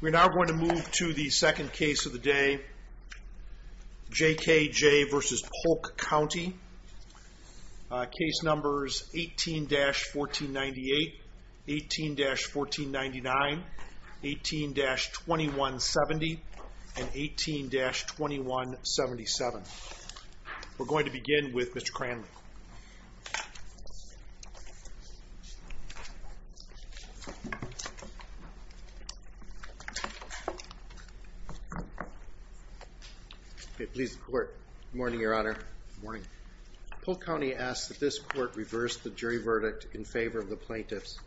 We're now going to move to the second case of the day. J.K.J. v. Polk County Case numbers 18-1498 18-1499 18-2170 and 18-2177 We're going to begin with Mr. Cranley. Please, the Court. Good morning, Your Honor. Good morning. Polk County asks that this Court reverse the jury verdict in favor of the plaintiffs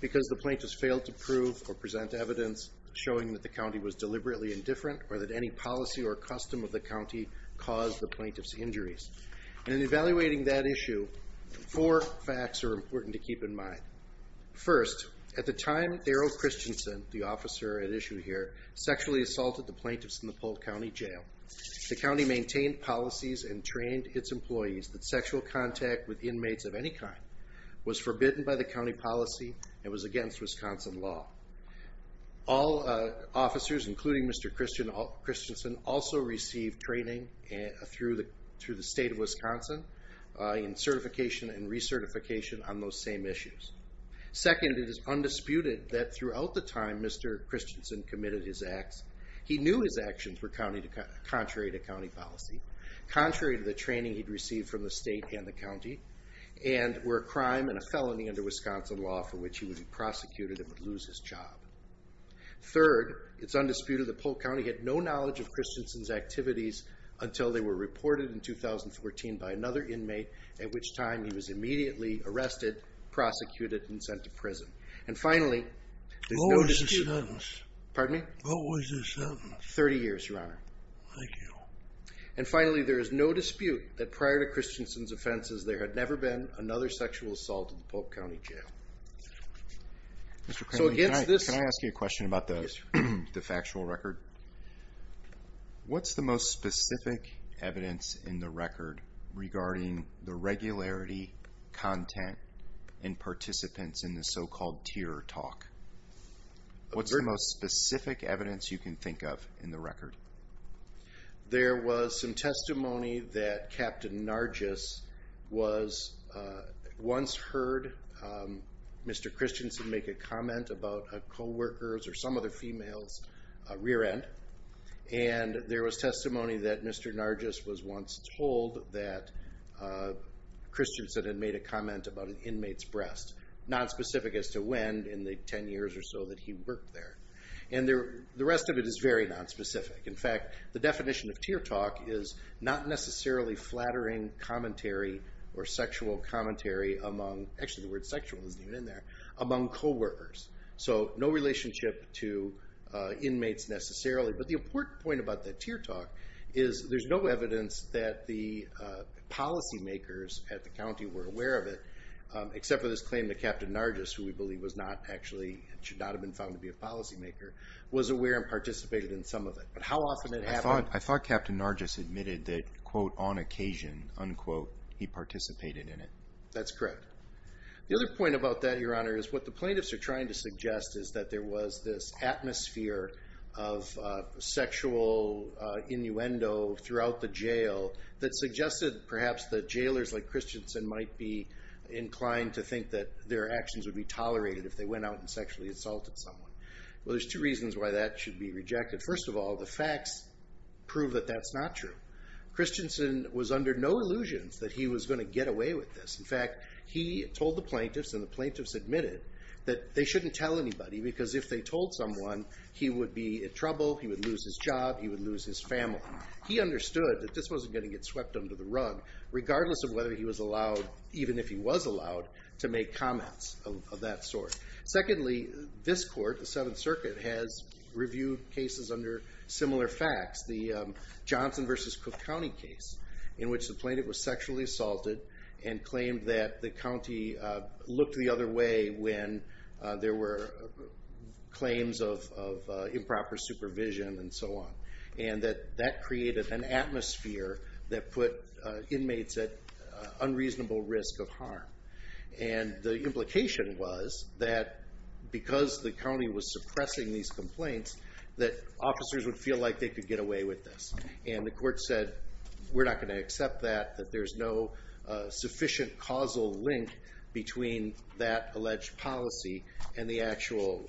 because the plaintiffs failed to prove or present evidence showing that the county was deliberately indifferent or that any policy or custom of the county caused the plaintiffs' injuries. In evaluating that issue, four facts are important to keep in mind. First, at the time Darrell Christensen, the officer at issue here, sexually assaulted the plaintiffs in the Polk County Jail, the county maintained policies and trained its employees that sexual contact with inmates of any kind was forbidden by the county policy and was against Wisconsin law. All officers, including Mr. Christensen, also received training through the State of Wisconsin in certification and recertification on those same issues. Second, it is undisputed that throughout the time Mr. Christensen committed his acts, he knew his actions were contrary to county policy, contrary to the training he'd received from the State and the county, and were a crime and a felony under Wisconsin law for which he would be prosecuted and would lose his job. Third, it's undisputed that Polk County had no knowledge of Christensen's activities until they were reported in 2014 by another inmate, at which time he was immediately arrested, prosecuted, and sent to prison. And finally, there's no dispute... What was the sentence? Pardon me? What was the sentence? Thirty years, Your Honor. Thank you. And finally, there is no dispute that prior to Christensen's offenses, there had never been another sexual assault in the Polk County Jail. Mr. Cranley, can I ask you a question about the factual record? What's the most specific evidence in the record regarding the regularity, content, and participants in the so-called tier talk? What's the most specific evidence you can think of in the record? There was some testimony that Captain Nargis once heard Mr. Christensen make a comment about a co-worker's or some other female's rear end, and there was testimony that Mr. Nargis was once told that Christensen had made a comment about an inmate's breast, not specific as to when in the 10 years or so that he worked there. And the rest of it is very nonspecific. In fact, the definition of tier talk is not necessarily flattering commentary or sexual commentary among, actually the word sexual isn't even in there, among co-workers, so no relationship to inmates necessarily. But the important point about the tier talk is there's no evidence that the policymakers at the county were aware of it, except for this claim that Captain Nargis, who we believe was not actually, should not have been found to be a policymaker, was aware and participated in some of it. But how often did it happen? I thought Captain Nargis admitted that, quote, on occasion, unquote, he participated in it. That's correct. The other point about that, Your Honor, is what the plaintiffs are trying to suggest is that there was this atmosphere of sexual innuendo throughout the jail that suggested perhaps that jailors like Christensen might be inclined to think that their actions would be tolerated if they went out and sexually assaulted someone. Well, there's two reasons why that should be rejected. First of all, the facts prove that that's not true. Christensen was under no illusions that he was going to get away with this. In fact, he told the plaintiffs, and the plaintiffs admitted, that they shouldn't tell anybody because if they told someone, he would be in trouble, he would lose his job, he would lose his family. He understood that this wasn't going to get swept under the rug, regardless of whether he was allowed, even if he was allowed, to make comments of that sort. Secondly, this court, the Seventh Circuit, has reviewed cases under similar facts. The Johnson v. Cook County case, in which the plaintiff was sexually assaulted and claimed that the county looked the other way when there were claims of improper supervision and so on. And that that created an atmosphere that put inmates at unreasonable risk of harm. And the implication was that because the county was suppressing these complaints, that officers would feel like they could get away with this. And the court said, we're not going to accept that, that there's no sufficient causal link between that alleged policy and the actual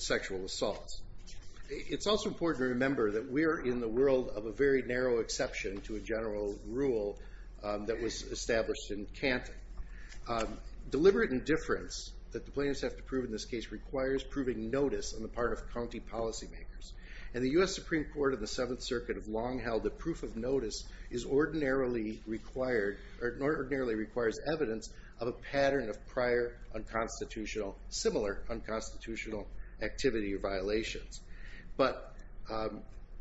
sexual assault. It's also important to remember that we're in the world of a very narrow exception to a general rule that was established in Canton. Deliberate indifference that the plaintiffs have to prove in this case requires proving notice on the part of county policymakers. And the U.S. Supreme Court and the Seventh Circuit have long held that proof of notice ordinarily requires evidence of a pattern of similar unconstitutional activity or violations. But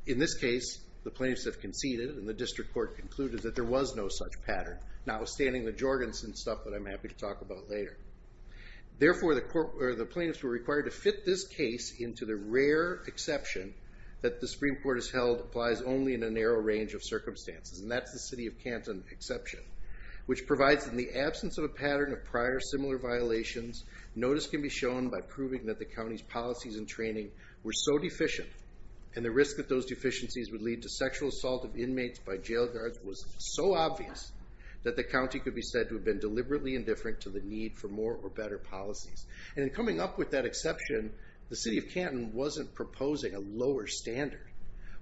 in this case, the plaintiffs have conceded, and the district court concluded that there was no such pattern, notwithstanding the jorgans and stuff that I'm happy to talk about later. Therefore, the plaintiffs were required to fit this case into the rare exception that the Supreme Court has held applies only in a narrow range of circumstances, and that's the city of Canton exception, which provides in the absence of a pattern of prior similar violations, notice can be shown by proving that the county's policies and training were so deficient, and the risk that those deficiencies would lead to to the need for more or better policies. And in coming up with that exception, the city of Canton wasn't proposing a lower standard.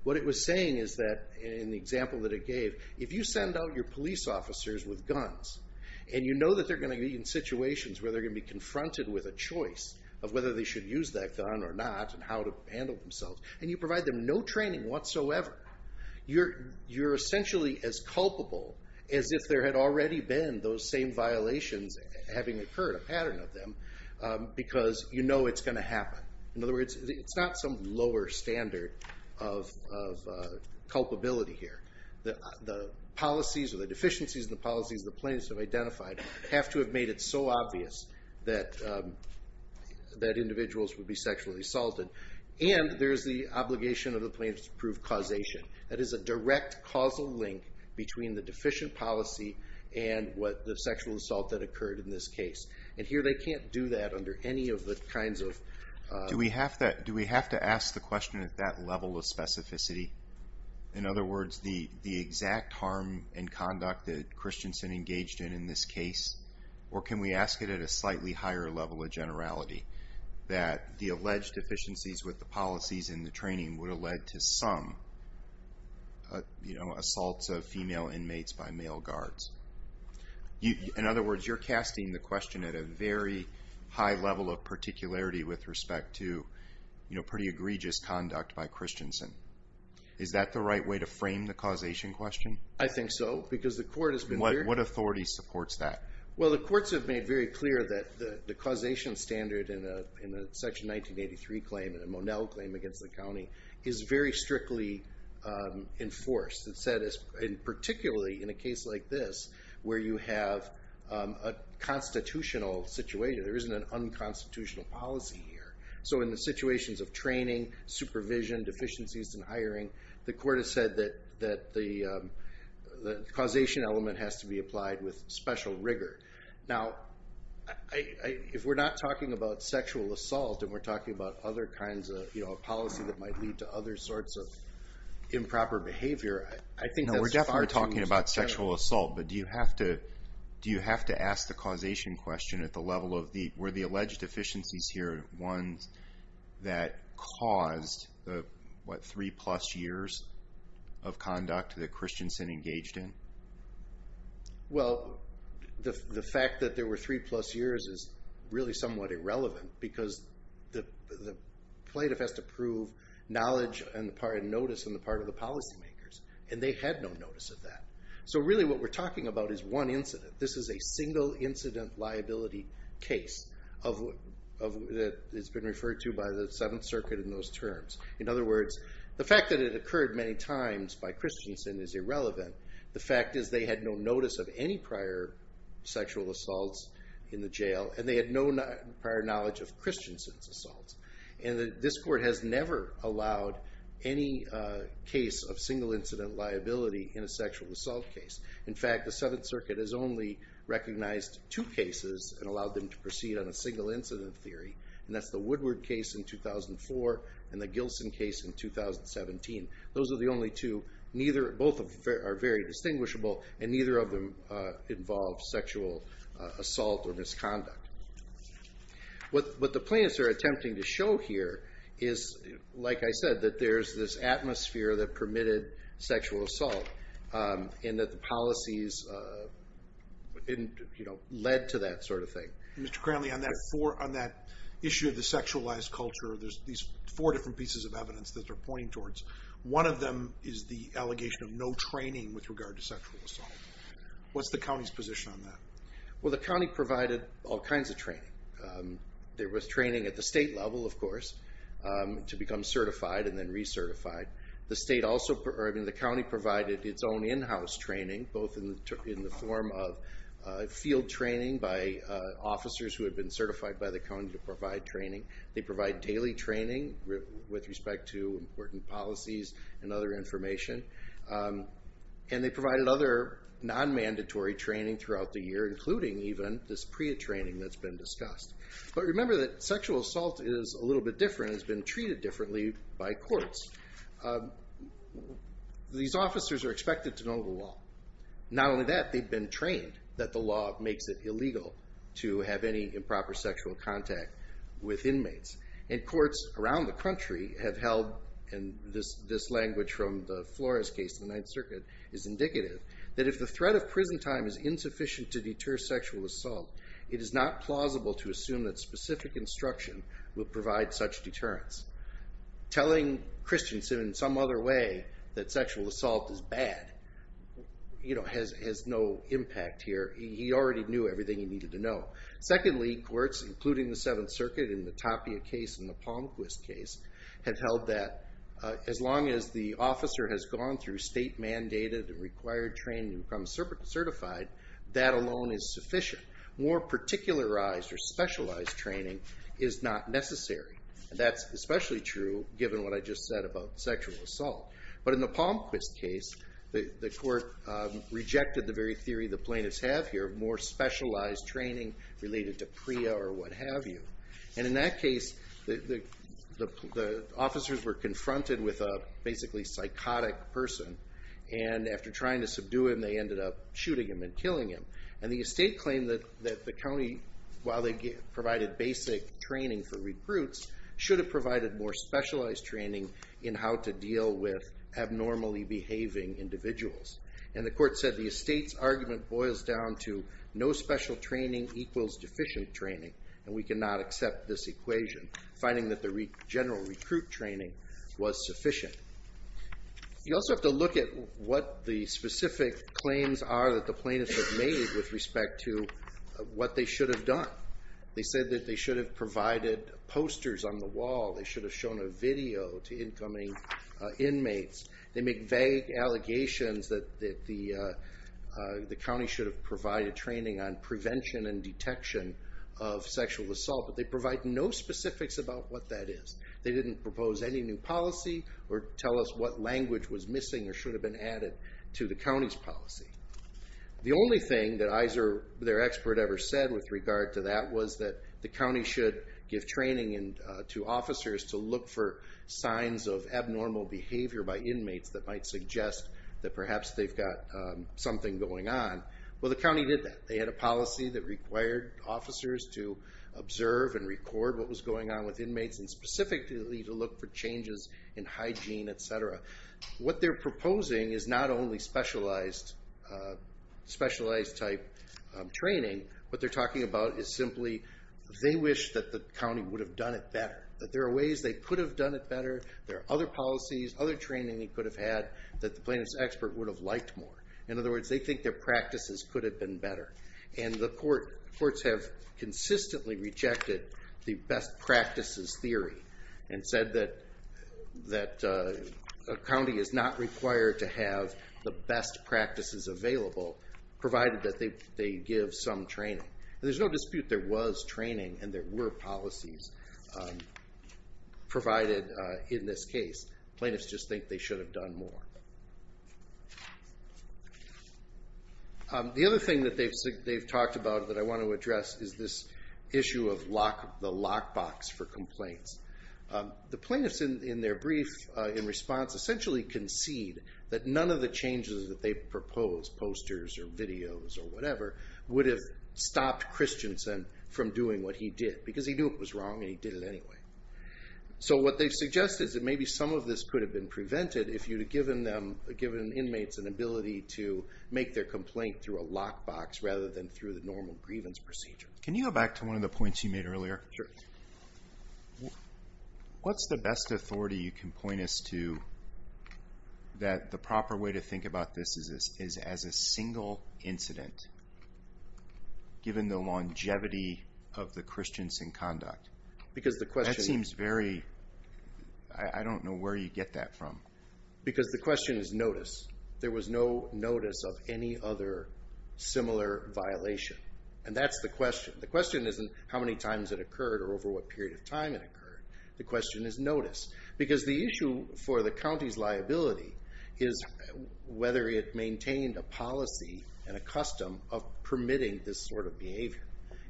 What it was saying is that, in the example that it gave, if you send out your police officers with guns, and you know that they're going to be in situations where they're going to be confronted with a choice of whether they should use that gun or not, and how to handle themselves, and you provide them no training whatsoever, you're essentially as culpable as if there had already been those same violations having occurred, a pattern of them, because you know it's going to happen. In other words, it's not some lower standard of culpability here. The policies or the deficiencies in the policies the plaintiffs have identified have to have made it so obvious that individuals would be sexually assaulted, and there's the obligation of the plaintiffs to prove causation. That is a direct causal link between the deficient policy and the sexual assault that occurred in this case. And here they can't do that under any of the kinds of... Do we have to ask the question at that level of specificity? In other words, the exact harm and conduct that Christensen engaged in in this case, or can we ask it at a slightly higher level of generality? That the alleged deficiencies with the policies and the training would have led to some assaults of female inmates by male guards. In other words, you're casting the question at a very high level of particularity with respect to pretty egregious conduct by Christensen. Is that the right way to frame the causation question? I think so, because the court has been very... What authority supports that? Well, the courts have made very clear that the causation standard in a Section 1983 claim, in a Monell claim against the county, is very strictly enforced, and particularly in a case like this where you have a constitutional situation. There isn't an unconstitutional policy here. So in the situations of training, supervision, deficiencies in hiring, the court has said that the causation element has to be applied with special rigor. Now, if we're not talking about sexual assault and we're talking about other kinds of policy that might lead to other sorts of improper behavior, I think that's far too general. No, we're definitely talking about sexual assault, but do you have to ask the causation question at the level of were the alleged deficiencies here ones that caused the, what, three-plus years of conduct that Christensen engaged in? Well, the fact that there were three-plus years is really somewhat irrelevant because the plaintiff has to prove knowledge and notice on the part of the policymakers, and they had no notice of that. So really what we're talking about is one incident. This is a single-incident liability case that has been referred to by the Seventh Circuit in those terms. In other words, the fact that it occurred many times by Christensen is irrelevant. The fact is they had no notice of any prior sexual assaults in the jail, and they had no prior knowledge of Christensen's assaults. And this court has never allowed any case of single-incident liability in a sexual assault case. In fact, the Seventh Circuit has only recognized two cases and allowed them to proceed on a single-incident theory, and that's the Woodward case in 2004 and the Gilson case in 2017. Those are the only two. Both are very distinguishable, and neither of them involve sexual assault or misconduct. What the plaintiffs are attempting to show here is, like I said, that there's this atmosphere that permitted sexual assault and that the policies led to that sort of thing. Mr. Cranley, on that issue of the sexualized culture, there's these four different pieces of evidence that they're pointing towards. One of them is the allegation of no training with regard to sexual assault. What's the county's position on that? Well, the county provided all kinds of training. There was training at the state level, of course, to become certified and then recertified. The county provided its own in-house training, both in the form of field training by officers who had been certified by the county to provide training. They provide daily training with respect to important policies and other information, and they provided other non-mandatory training throughout the year, including even this PREA training that's been discussed. But remember that sexual assault is a little bit different. It's been treated differently by courts. These officers are expected to know the law. Not only that, they've been trained that the law makes it illegal to have any improper sexual contact with inmates. And courts around the country have held, and this language from the Flores case in the Ninth Circuit is indicative, that if the threat of prison time is insufficient to deter sexual assault, it is not plausible to assume that specific instruction will provide such deterrence. Telling Christiansen in some other way that sexual assault is bad has no impact here. He already knew everything he needed to know. Secondly, courts, including the Seventh Circuit in the Tapia case and the Palmquist case, have held that as long as the officer has gone through state-mandated and required training to become certified, that alone is sufficient. More particularized or specialized training is not necessary. And that's especially true given what I just said about sexual assault. But in the Palmquist case, the court rejected the very theory the plaintiffs have here, more specialized training related to PREA or what have you. And in that case, the officers were confronted with a basically psychotic person. And after trying to subdue him, they ended up shooting him and killing him. And the estate claimed that the county, while they provided basic training for recruits, should have provided more specialized training in how to deal with abnormally behaving individuals. And the court said the estate's argument boils down to no special training equals deficient training, and we cannot accept this equation, finding that the general recruit training was sufficient. You also have to look at what the specific claims are that the plaintiffs have made with respect to what they should have done. They said that they should have provided posters on the wall. They should have shown a video to incoming inmates. They make vague allegations that the county should have provided training on prevention and detection of sexual assault, but they provide no specifics about what that is. They didn't propose any new policy or tell us what language was missing or should have been added to the county's policy. The only thing that their expert ever said with regard to that was that the county should give training to officers to look for signs of abnormal behavior by inmates that might suggest that perhaps they've got something going on. Well, the county did that. They had a policy that required officers to observe and record what was going on with inmates and specifically to look for changes in hygiene, et cetera. What they're proposing is not only specialized type training. What they're talking about is simply they wish that the county would have done it better, that there are ways they could have done it better, there are other policies, other training they could have had that the plaintiff's expert would have liked more. In other words, they think their practices could have been better, and the courts have consistently rejected the best practices theory and said that a county is not required to have the best practices available provided that they give some training. There's no dispute there was training and there were policies provided in this case. Plaintiffs just think they should have done more. The other thing that they've talked about that I want to address is this issue of the lockbox for complaints. The plaintiffs in their brief in response essentially concede that none of the changes that they propose, posters or videos or whatever, would have stopped Christensen from doing what he did because he knew it was wrong and he did it anyway. So what they've suggested is that maybe some of this could have been prevented if you had given inmates an ability to make their complaint through a lockbox rather than through the normal grievance procedure. Can you go back to one of the points you made earlier? Sure. What's the best authority you can point us to that the proper way to think about this is as a single incident given the longevity of the Christensen conduct? Because the question is... I don't know where you get that from. Because the question is notice. There was no notice of any other similar violation. And that's the question. The question isn't how many times it occurred or over what period of time it occurred. The question is notice. Because the issue for the county's liability is whether it maintained a policy and a custom of permitting this sort of behavior.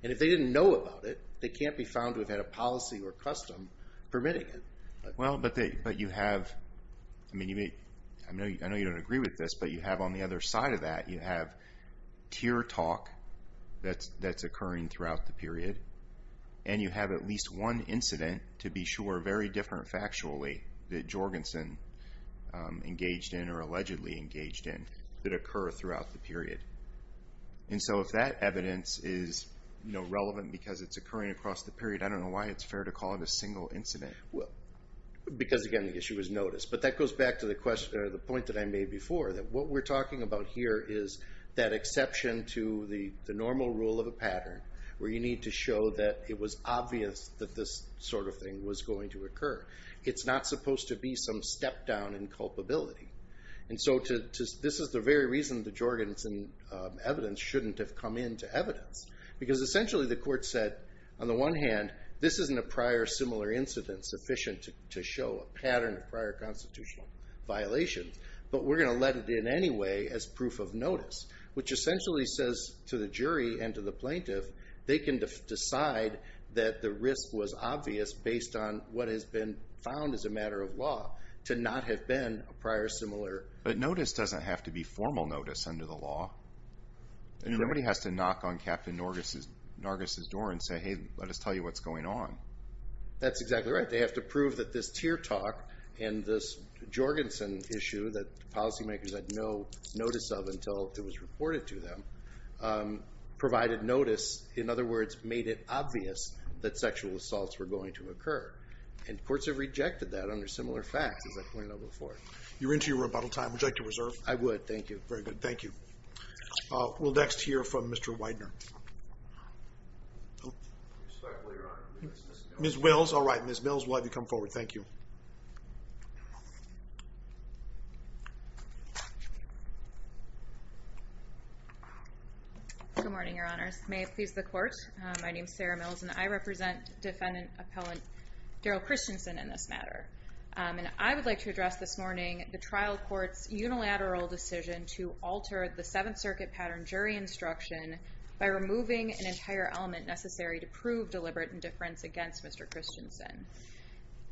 And if they didn't know about it, they can't be found without a policy or custom permitting it. Well, but you have... I know you don't agree with this, but you have on the other side of that, you have tier talk that's occurring throughout the period. And you have at least one incident, to be sure, very different factually, that Jorgensen engaged in or allegedly engaged in that occur throughout the period. And so if that evidence is relevant because it's occurring across the period, I don't know why it's fair to call it a single incident. Because, again, the issue is notice. But that goes back to the point that I made before, that what we're talking about here is that exception to the normal rule of a pattern where you need to show that it was obvious that this sort of thing was going to occur. It's not supposed to be some step down in culpability. And so this is the very reason the Jorgensen evidence shouldn't have come into evidence. Because essentially the court said, on the one hand, this isn't a prior similar incident sufficient to show a pattern of prior constitutional violations, but we're going to let it in anyway as proof of notice. Which essentially says to the jury and to the plaintiff, they can decide that the risk was obvious based on what has been found as a matter of law to not have been a prior similar... But notice doesn't have to be formal notice under the law. Nobody has to knock on Captain Nargus' door and say, hey, let us tell you what's going on. That's exactly right. They have to prove that this Tear Talk and this Jorgensen issue that policymakers had no notice of until it was reported to them, provided notice, in other words, made it obvious that sexual assaults were going to occur. And courts have rejected that under similar facts, as I pointed out before. You're into your rebuttal time. Would you like to reserve? I would. Thank you. Very good. Thank you. We'll next hear from Mr. Widener. Respectfully, Your Honor, Ms. Mills. Ms. Mills. All right. Ms. Mills, we'll have you come forward. Thank you. Good morning, Your Honors. May it please the Court. My name is Sarah Mills, and I represent Defendant Appellant Daryl Christensen in this matter. And I would like to address this morning the trial court's unilateral decision to alter the Seventh Circuit pattern jury instruction by removing an entire element necessary to prove deliberate indifference against Mr. Christensen.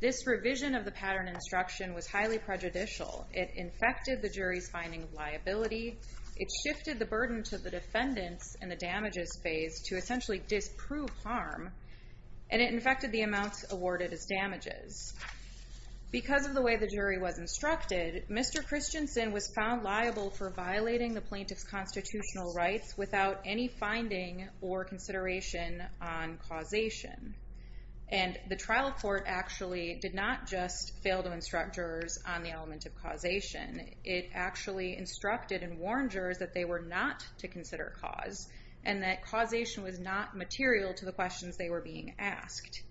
This revision of the pattern instruction was highly prejudicial. It infected the jury's finding of liability. It shifted the burden to the defendants in the damages phase to essentially disprove harm. And it infected the amounts awarded as damages. Because of the way the jury was instructed, Mr. Christensen was found liable for violating the plaintiff's constitutional rights without any finding or consideration on causation. And the trial court actually did not just fail to instruct jurors on the element of causation. It actually instructed and warned jurors that they were not to consider cause and that causation was not material to the questions they were being asked.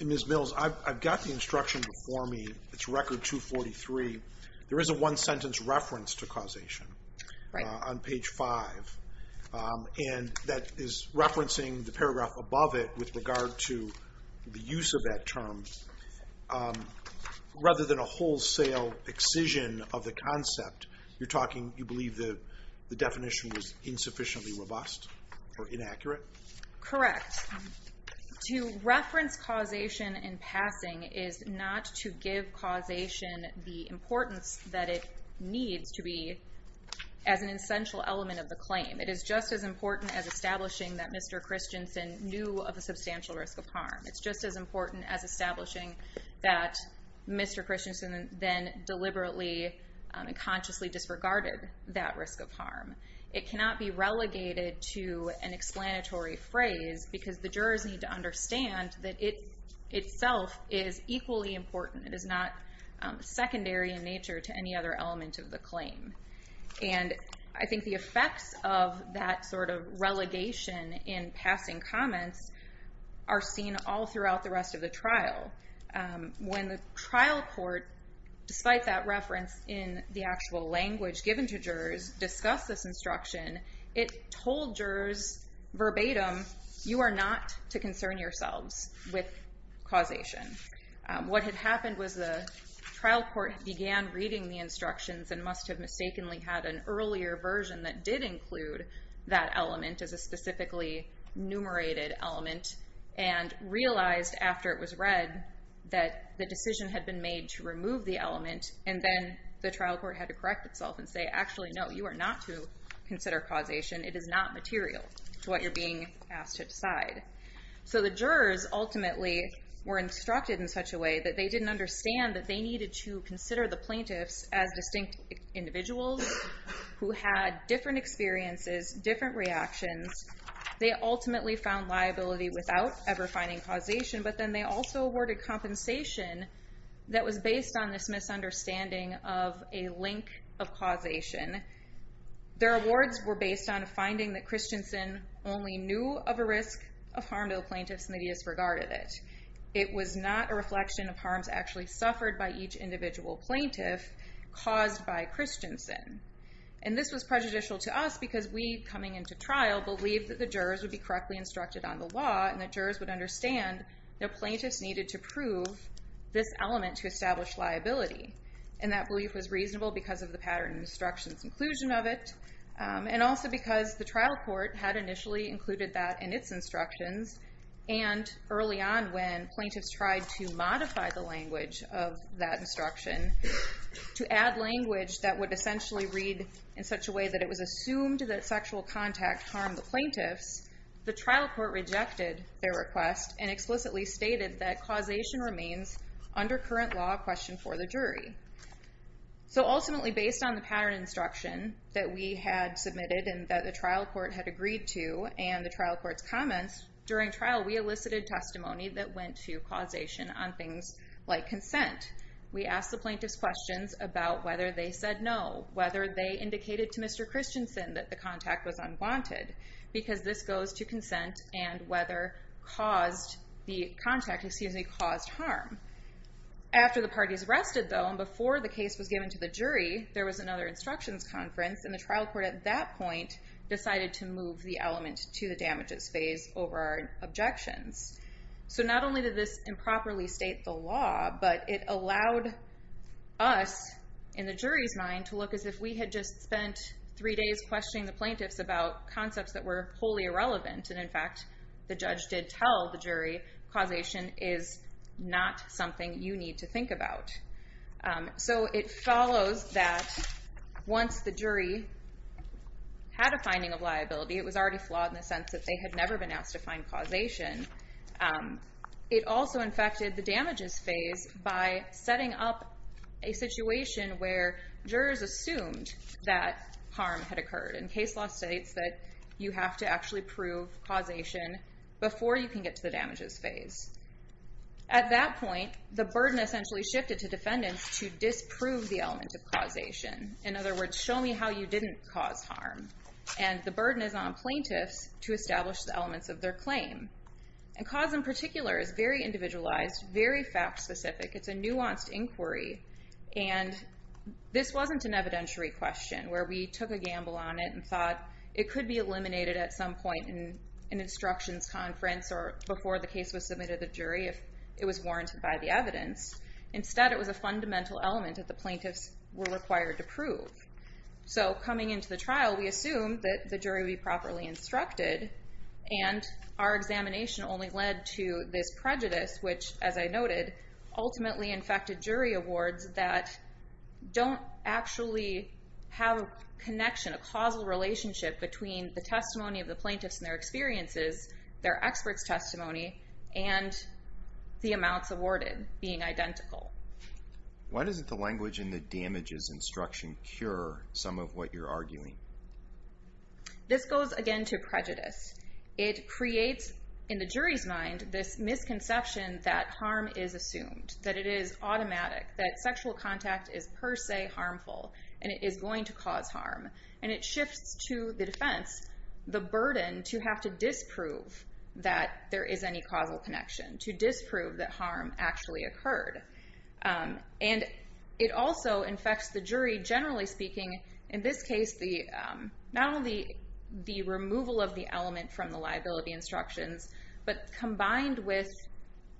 Ms. Mills, I've got the instruction before me. It's Record 243. There is a one-sentence reference to causation on page 5. And that is referencing the paragraph above it with regard to the use of that term. Rather than a wholesale excision of the concept, you believe the definition was insufficiently robust or inaccurate? Correct. To reference causation in passing is not to give causation the importance that it needs to be as an essential element of the claim. It is just as important as establishing that Mr. Christensen knew of a substantial risk of harm. It's just as important as establishing that Mr. Christensen then deliberately and consciously disregarded that risk of harm. It cannot be relegated to an explanatory phrase because the jurors need to understand that it itself is equally important. It is not secondary in nature to any other element of the claim. And I think the effects of that sort of relegation in passing comments are seen all throughout the rest of the trial. When the trial court, despite that reference in the actual language given to jurors, discussed this instruction, it told jurors verbatim, you are not to concern yourselves with causation. What had happened was the trial court began reading the instructions and must have mistakenly had an earlier version that did include that element as a specifically numerated element and realized after it was read that the decision had been made to remove the element and then the trial court had to correct itself and say, actually, no, you are not to consider causation. It is not material to what you're being asked to decide. So the jurors ultimately were instructed in such a way that they didn't understand that they needed to consider the plaintiffs as distinct individuals who had different experiences, different reactions. They ultimately found liability without ever finding causation, but then they also awarded compensation that was based on this misunderstanding of a link of causation. Their awards were based on a finding that Christensen only knew of a risk of harm to the plaintiffs and that he disregarded it. It was not a reflection of harms actually suffered by each individual plaintiff caused by Christensen. And this was prejudicial to us because we, coming into trial, believed that the jurors would be correctly instructed on the law and the jurors would understand that plaintiffs needed to prove this element to establish liability. And that belief was reasonable because of the pattern instructions inclusion of it and also because the trial court had initially included that in its instructions and early on when plaintiffs tried to modify the language of that instruction, to add language that would essentially read in such a way that it was assumed that sexual contact harmed the plaintiffs, the trial court rejected their request and explicitly stated that causation remains under current law a question for the jury. So ultimately, based on the pattern instruction that we had submitted and that the trial court had agreed to and the trial court's comments, during trial we elicited testimony that went to causation on things like consent. We asked the plaintiffs questions about whether they said no, whether they indicated to Mr. Christensen that the contact was unwanted because this goes to consent and whether the contact caused harm. After the parties rested though and before the case was given to the jury, there was another instructions conference and the trial court at that point decided to move the element to the damages phase over our objections. So not only did this improperly state the law, but it allowed us in the jury's mind to look as if we had just spent three days questioning the plaintiffs about concepts that were wholly irrelevant and in fact the judge did tell the jury causation is not something you need to think about. So it follows that once the jury had a finding of liability, it was already flawed in the sense that they had never been asked to find causation, it also infected the damages phase by setting up a situation where jurors assumed that harm had occurred and case law states that you have to actually prove causation before you can get to the damages phase. At that point, the burden essentially shifted to defendants to disprove the element of causation. In other words, show me how you didn't cause harm. And the burden is on plaintiffs to establish the elements of their claim. And cause in particular is very individualized, very fact specific. It's a nuanced inquiry. And this wasn't an evidentiary question where we took a gamble on it and thought it could be eliminated at some point in an instructions conference or before the case was submitted to the jury if it was warranted by the evidence. Instead, it was a fundamental element that the plaintiffs were required to prove. So coming into the trial, we assumed that the jury would be properly instructed and our examination only led to this prejudice which, as I noted, ultimately infected jury awards that don't actually have a connection, a causal relationship between the testimony of the plaintiffs and their experiences, their experts' testimony, and the amounts awarded being identical. Why doesn't the language in the damages instruction cure some of what you're arguing? This goes again to prejudice. It creates in the jury's mind this misconception that harm is assumed, that it is automatic, that sexual contact is per se harmful, and it is going to cause harm. And it shifts to the defense the burden to have to disprove that there is any causal connection, to disprove that harm actually occurred. And it also infects the jury, generally speaking, in this case, not only the removal of the element from the liability instructions, but combined with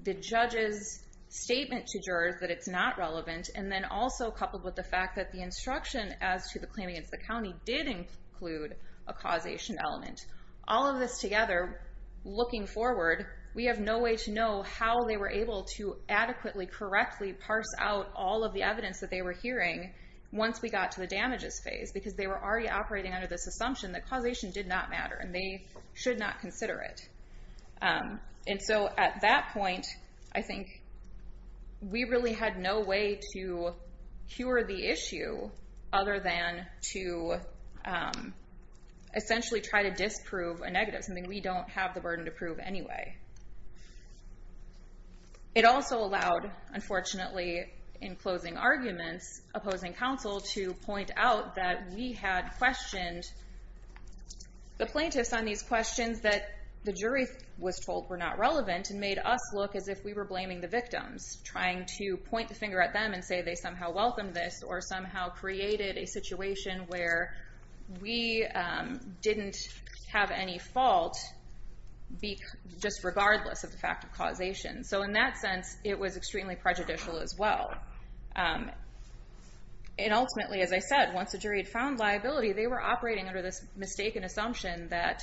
the judge's statement to jurors that it's not relevant and then also coupled with the fact that the instruction as to the claim against the county did include a causation element. All of this together, looking forward, we have no way to know how they were able to adequately, correctly parse out all of the evidence that they were hearing once we got to the damages phase, because they were already operating under this assumption that causation did not matter and they should not consider it. And so at that point, I think we really had no way to cure the issue other than to essentially try to disprove a negative, something we don't have the burden to prove anyway. It also allowed, unfortunately, in closing arguments, opposing counsel to point out that we had questioned the plaintiffs on these questions that the jury was told were not relevant and made us look as if we were blaming the victims, trying to point the finger at them and say they somehow welcomed this or somehow created a situation where we didn't have any fault, just regardless of the fact of causation. So in that sense, it was extremely prejudicial as well. And ultimately, as I said, once the jury had found liability, they were operating under this mistaken assumption that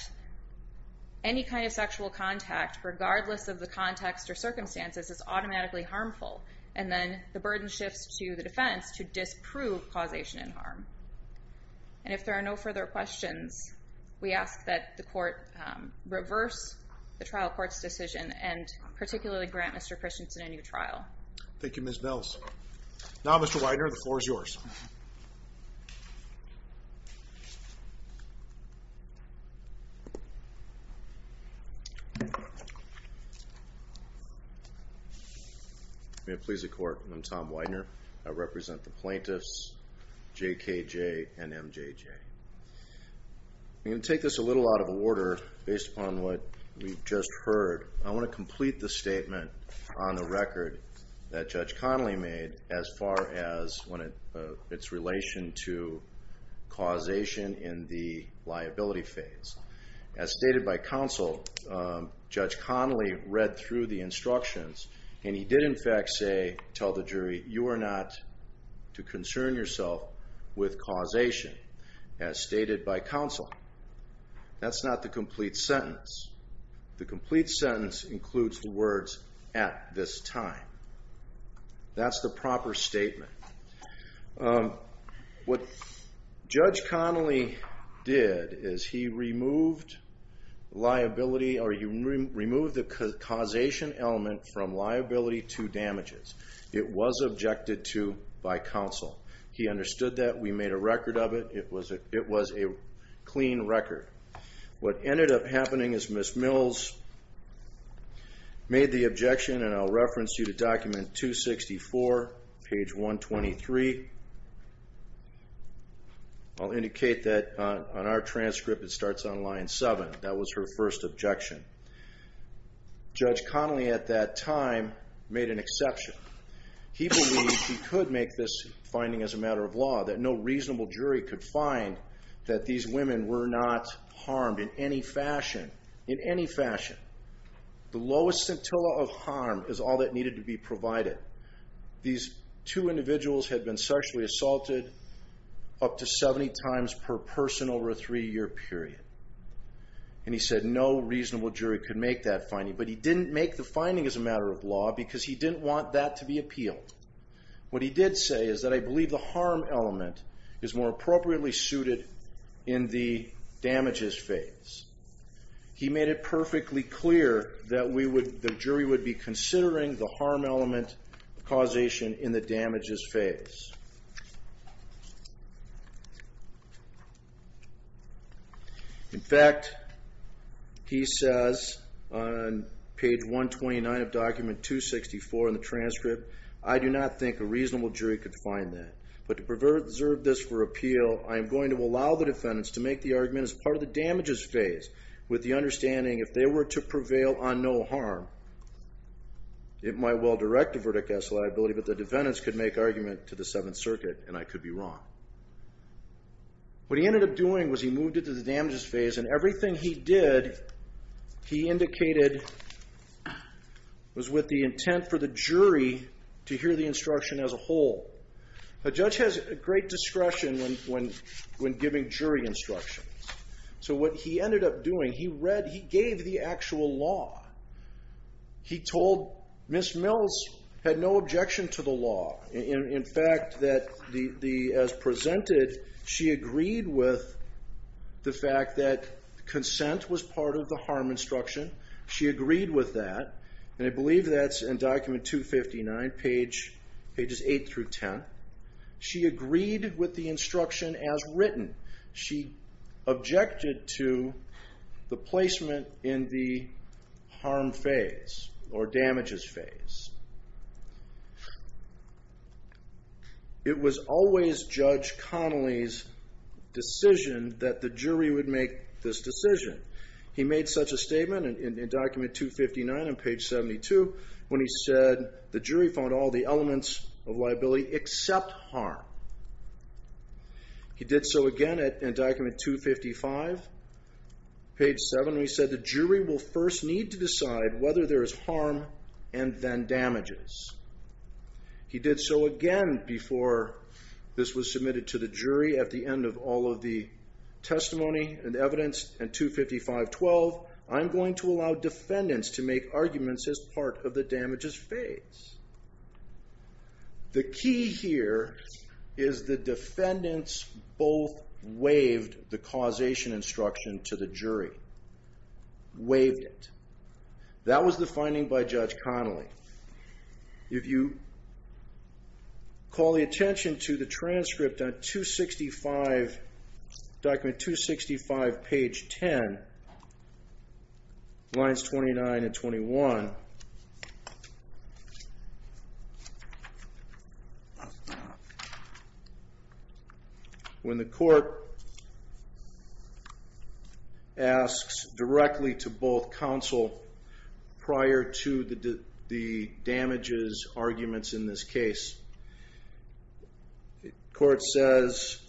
any kind of sexual contact, regardless of the context or circumstances, is automatically harmful. And then the burden shifts to the defense to disprove causation and harm. And if there are no further questions, we ask that the court reverse the trial court's decision and particularly grant Mr. Christensen a new trial. Thank you, Ms. Mills. Now, Mr. Weiner, the floor is yours. May it please the Court, I'm Tom Weiner. I represent the plaintiffs, J.K.J. and M.J.J. I'm going to take this a little out of order based upon what we've just heard. I want to complete the statement on the record that Judge Connolly made as far as its relation to causation in the liability phase. As stated by counsel, Judge Connolly read through the instructions, and he did in fact say, tell the jury, you are not to concern yourself with causation as stated by counsel. That's not the complete sentence. The complete sentence includes the words, at this time. That's the proper statement. What Judge Connolly did is he removed liability or he removed the causation element from liability to damages. It was objected to by counsel. He understood that. We made a record of it. It was a clean record. What ended up happening is Ms. Mills made the objection, and I'll reference you to document 264, page 123. I'll indicate that on our transcript it starts on line 7. That was her first objection. Judge Connolly at that time made an exception. He believed he could make this finding as a matter of law, that no reasonable jury could find that these women were not harmed in any fashion, in any fashion. The lowest scintilla of harm is all that needed to be provided. These two individuals had been sexually assaulted up to 70 times per person over a three-year period, and he said no reasonable jury could make that finding. But he didn't make the finding as a matter of law because he didn't want that to be appealed. What he did say is that I believe the harm element is more appropriately suited in the damages phase. He made it perfectly clear that the jury would be considering the harm element causation in the damages phase. In fact, he says on page 129 of document 264 in the transcript, I do not think a reasonable jury could find that. But to preserve this for appeal, I am going to allow the defendants to make the argument as part of the damages phase with the understanding if they were to prevail on no harm, it might well direct the verdict as liability, but the defendants could make argument to the Seventh Circuit, and I could be wrong. What he ended up doing was he moved it to the damages phase, and everything he did, he indicated, was with the intent for the jury to hear the instruction as a whole. A judge has great discretion when giving jury instructions. So what he ended up doing, he gave the actual law. He told Ms. Mills had no objection to the law. In fact, as presented, she agreed with the fact that consent was part of the harm instruction. She agreed with that, and I believe that's in document 259, pages 8 through 10. She agreed with the instruction as written. She objected to the placement in the harm phase or damages phase. It was always Judge Connolly's decision that the jury would make this decision. He made such a statement in document 259 on page 72 when he said the jury found all the elements of liability except harm. He did so again in document 255, page 7, when he said the jury will first need to decide whether there is harm and then damages. He did so again before this was submitted to the jury at the end of all of the testimony and evidence in 255.12. I'm going to allow defendants to make arguments as part of the damages phase. The key here is the defendants both waived the causation instruction to the jury. Waived it. That was the finding by Judge Connolly. If you call the attention to the transcript on document 265, page 10, lines 29 and 21, when the court asks directly to both counsel prior to the damages arguments in this case, the court says,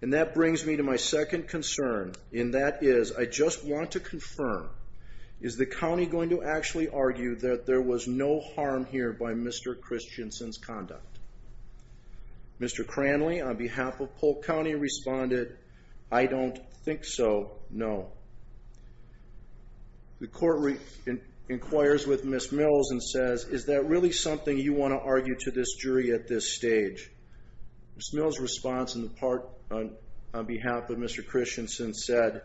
and that brings me to my second concern, and that is I just want to confirm, is the county going to actually argue that there was no harm here by Mr. Christensen's conduct? Mr. Cranley, on behalf of Polk County, responded, I don't think so, no. The court inquires with Ms. Mills and says, is that really something you want to argue to this jury at this stage? Ms. Mills' response on behalf of Mr. Christensen said,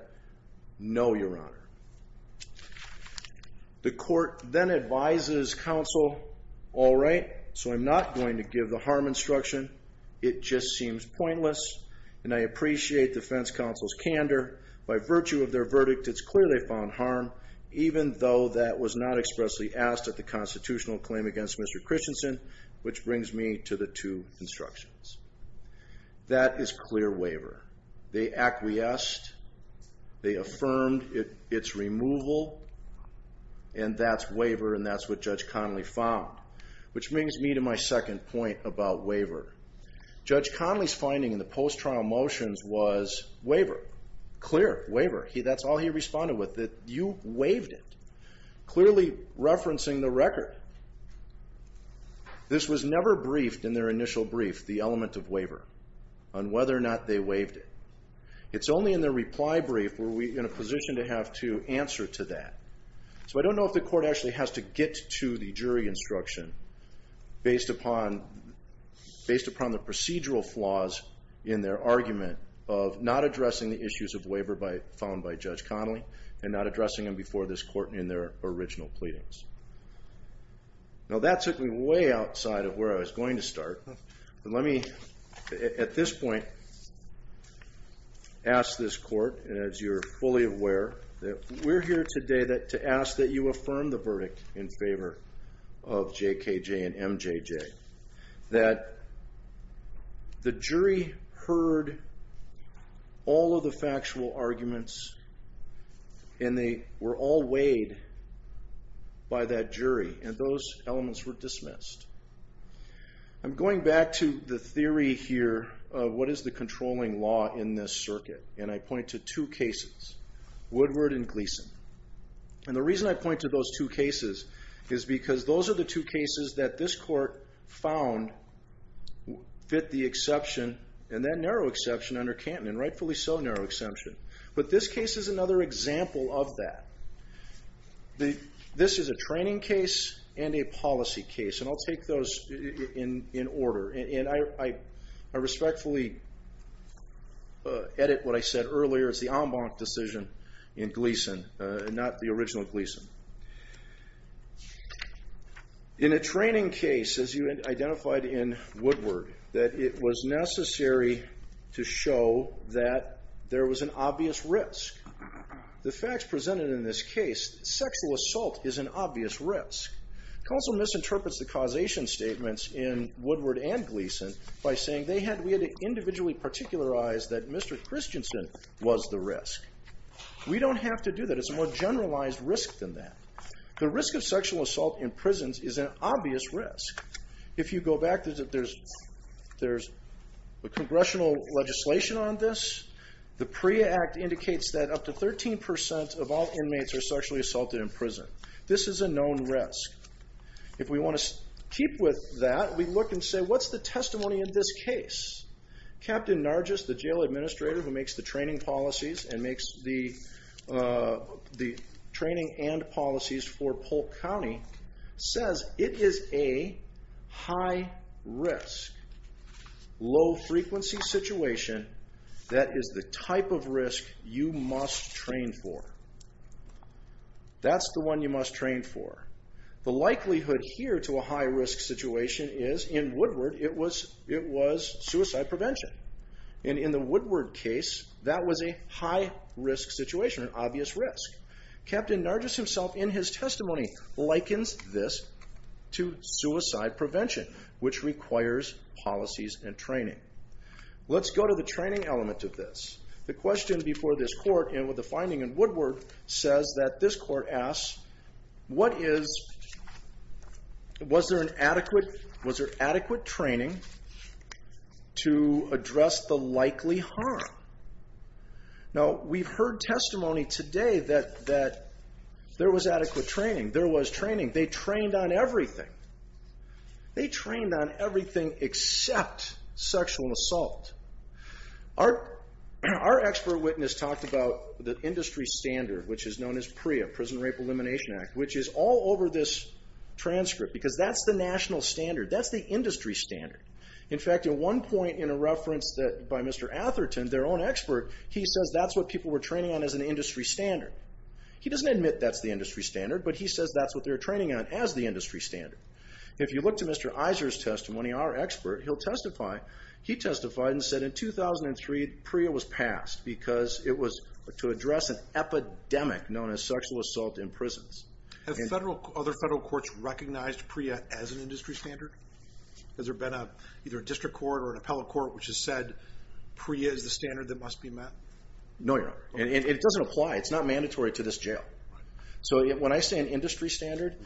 no, Your Honor. The court then advises counsel, all right, so I'm not going to give the harm instruction. It just seems pointless, and I appreciate defense counsel's candor. By virtue of their verdict, it's clear they found harm, even though that was not expressly asked at the constitutional claim against Mr. Christensen, which brings me to the two instructions. That is clear waiver. They acquiesced. They affirmed its removal, and that's waiver, and that's what Judge Connolly found, which brings me to my second point about waiver. Judge Connolly's finding in the post-trial motions was waiver, clear waiver. That's all he responded with, that you waived it, clearly referencing the record. This was never briefed in their initial brief, the element of waiver, on whether or not they waived it. It's only in their reply brief were we in a position to have to answer to that. So I don't know if the court actually has to get to the jury instruction based upon the procedural flaws in their argument of not addressing the issues of waiver found by Judge Connolly and not addressing them before this court in their original pleadings. Now that took me way outside of where I was going to start, but let me at this point ask this court, as you're fully aware, that we're here today to ask that you affirm the verdict in favor of J.K.J. and M.J.J., that the jury heard all of the factual arguments and they were all weighed by that jury, and those elements were dismissed. I'm going back to the theory here of what is the controlling law in this circuit, and I point to two cases, Woodward and Gleason. And the reason I point to those two cases is because those are the two cases that this court found fit the exception, and that narrow exception under Canton, and rightfully so narrow exception. But this case is another example of that. This is a training case and a policy case, and I'll take those in order. And I respectfully edit what I said earlier. It's the en banc decision in Gleason and not the original Gleason. In a training case, as you identified in Woodward, that it was necessary to show that there was an obvious risk. The facts presented in this case, sexual assault is an obvious risk. Counsel misinterprets the causation statements in Woodward and Gleason by saying we had to individually particularize that Mr. Christensen was the risk. We don't have to do that. It's a more generalized risk than that. The risk of sexual assault in prisons is an obvious risk. If you go back, there's congressional legislation on this. The PREA Act indicates that up to 13% of all inmates are sexually assaulted in prison. This is a known risk. If we want to keep with that, we look and say, what's the testimony in this case? Captain Nargis, the jail administrator who makes the training and policies for Polk County, says it is a high-risk, low-frequency situation that is the type of risk you must train for. That's the one you must train for. The likelihood here to a high-risk situation is, in Woodward, it was suicide prevention. In the Woodward case, that was a high-risk situation, an obvious risk. Captain Nargis himself, in his testimony, likens this to suicide prevention, which requires policies and training. Let's go to the training element of this. The question before this court, with the finding in Woodward, says that this court asks, was there adequate training to address the likely harm? We've heard testimony today that there was adequate training. There was training. They trained on everything. They trained on everything except sexual assault. Our expert witness talked about the industry standard, which is known as PREA, Prison Rape Elimination Act, which is all over this transcript, because that's the national standard. That's the industry standard. In fact, at one point in a reference by Mr. Atherton, their own expert, he says that's what people were training on as an industry standard. He doesn't admit that's the industry standard, but he says that's what they were training on as the industry standard. If you look to Mr. Iser's testimony, our expert, he'll testify. He testified and said in 2003 PREA was passed because it was to address an epidemic known as sexual assault in prisons. Have other federal courts recognized PREA as an industry standard? Has there been either a district court or an appellate court which has said PREA is the standard that must be met? No, Your Honor. It doesn't apply. It's not mandatory to this jail. So when I say an industry standard,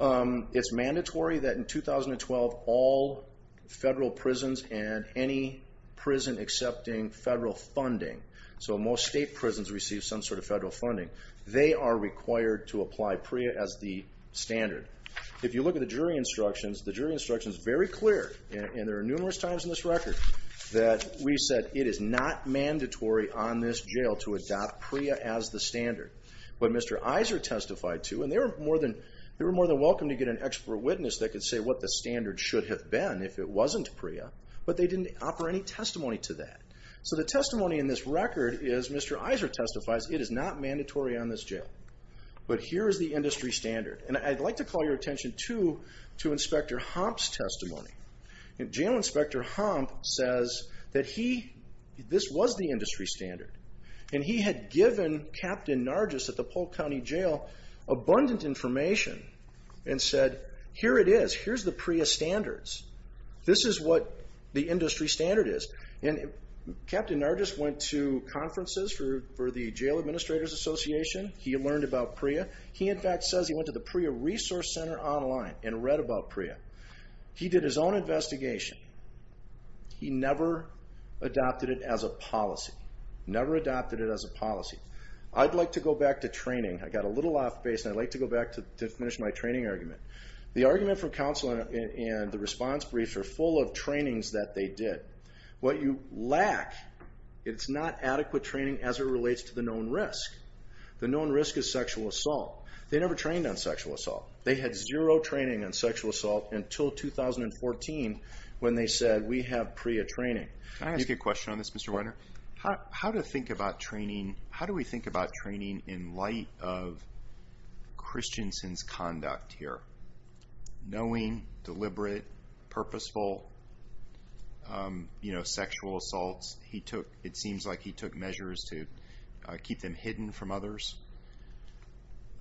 it's mandatory that in 2012, all federal prisons and any prison accepting federal funding, so most state prisons receive some sort of federal funding, they are required to apply PREA as the standard. If you look at the jury instructions, the jury instructions are very clear, and there are numerous times in this record that we said it is not mandatory on this jail to adopt PREA as the standard. But Mr. Iser testified to, and they were more than welcome to get an expert witness that could say what the standard should have been if it wasn't PREA, but they didn't offer any testimony to that. So the testimony in this record is Mr. Iser testifies it is not mandatory on this jail, but here is the industry standard. And I'd like to call your attention, too, to Inspector Hompf's testimony. Jail Inspector Hompf says that this was the industry standard, and he had given Captain Nargis at the Polk County Jail abundant information and said, here it is, here's the PREA standards. This is what the industry standard is. And Captain Nargis went to conferences for the Jail Administrators Association. He learned about PREA. He, in fact, says he went to the PREA Resource Center online and read about PREA. He did his own investigation. He never adopted it as a policy. Never adopted it as a policy. I'd like to go back to training. I got a little off base, and I'd like to go back to finish my training argument. The argument from counsel and the response briefs are full of trainings that they did. What you lack is not adequate training as it relates to the known risk. The known risk is sexual assault. They never trained on sexual assault. They had zero training on sexual assault until 2014 when they said, we have PREA training. Can I ask you a question on this, Mr. Weiner? How do we think about training in light of Christensen's conduct here? Knowing, deliberate, purposeful sexual assaults. It seems like he took measures to keep them hidden from others.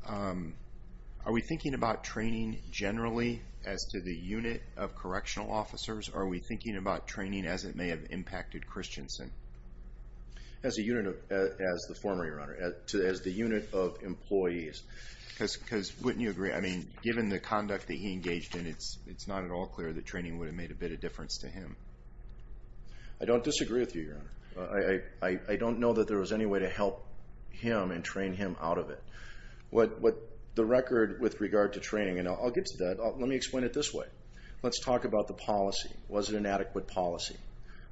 Are we thinking about training generally as to the unit of correctional officers, or are we thinking about training as it may have impacted Christensen? As a unit of, as the former, Your Honor, as the unit of employees. Because wouldn't you agree, I mean, given the conduct that he engaged in, it's not at all clear that training would have made a bit of difference to him. I don't disagree with you, Your Honor. I don't know that there was any way to help him and train him out of it. What the record with regard to training, and I'll get to that. Let me explain it this way. Let's talk about the policy. Was it an adequate policy?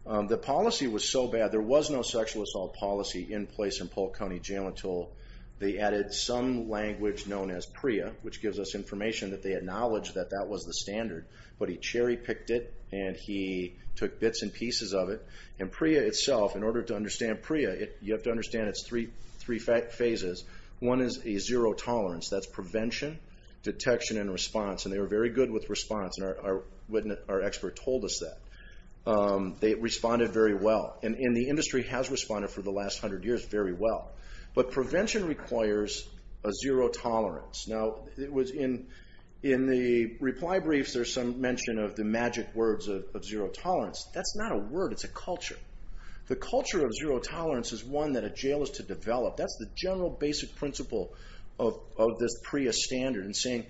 The policy was so bad, there was no sexual assault policy in place in Polk County Jail until they added some language known as PREA, which gives us information that they acknowledge that that was the standard. But he cherry-picked it, and he took bits and pieces of it. And PREA itself, in order to understand PREA, you have to understand it's three phases. One is a zero tolerance. That's prevention, detection, and response. And they were very good with response, and our expert told us that. They responded very well. And the industry has responded for the last hundred years very well. But prevention requires a zero tolerance. Now, in the reply briefs, there's some mention of the magic words of zero tolerance. That's not a word. It's a culture. The culture of zero tolerance is one that a jail is to develop. That's the general basic principle of this PREA standard in saying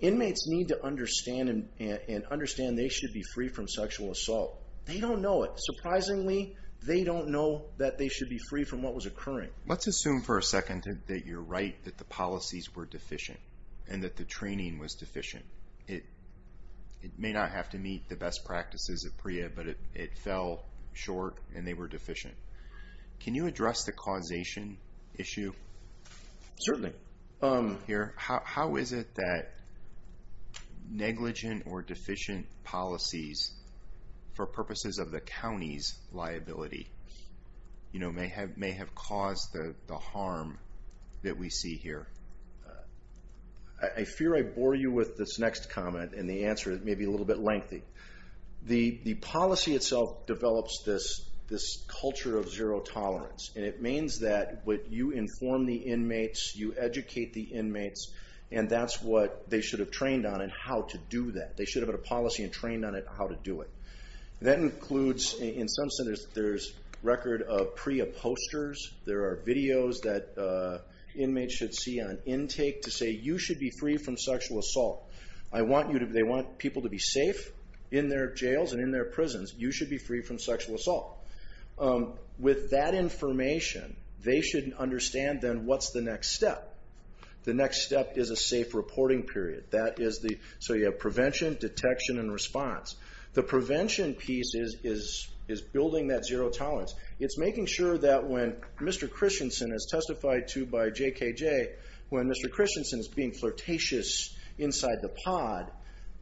inmates need to understand and understand they should be free from sexual assault. They don't know it. Surprisingly, they don't know that they should be free from what was occurring. Let's assume for a second that you're right, that the policies were deficient and that the training was deficient. It may not have to meet the best practices of PREA, but it fell short and they were deficient. Can you address the causation issue? Certainly. How is it that negligent or deficient policies, for purposes of the county's liability, may have caused the harm that we see here? I fear I bore you with this next comment, and the answer may be a little bit lengthy. The policy itself develops this culture of zero tolerance. It means that you inform the inmates, you educate the inmates, and that's what they should have trained on and how to do that. They should have had a policy and trained on how to do it. That includes, in some centers, there's record of PREA posters. There are videos that inmates should see on intake to say, you should be free from sexual assault. They want people to be safe in their jails and in their prisons. You should be free from sexual assault. With that information, they should understand then what's the next step. The next step is a safe reporting period. So you have prevention, detection, and response. The prevention piece is building that zero tolerance. It's making sure that when Mr. Christensen, as testified to by JKJ, when Mr. Christensen is being flirtatious inside the pod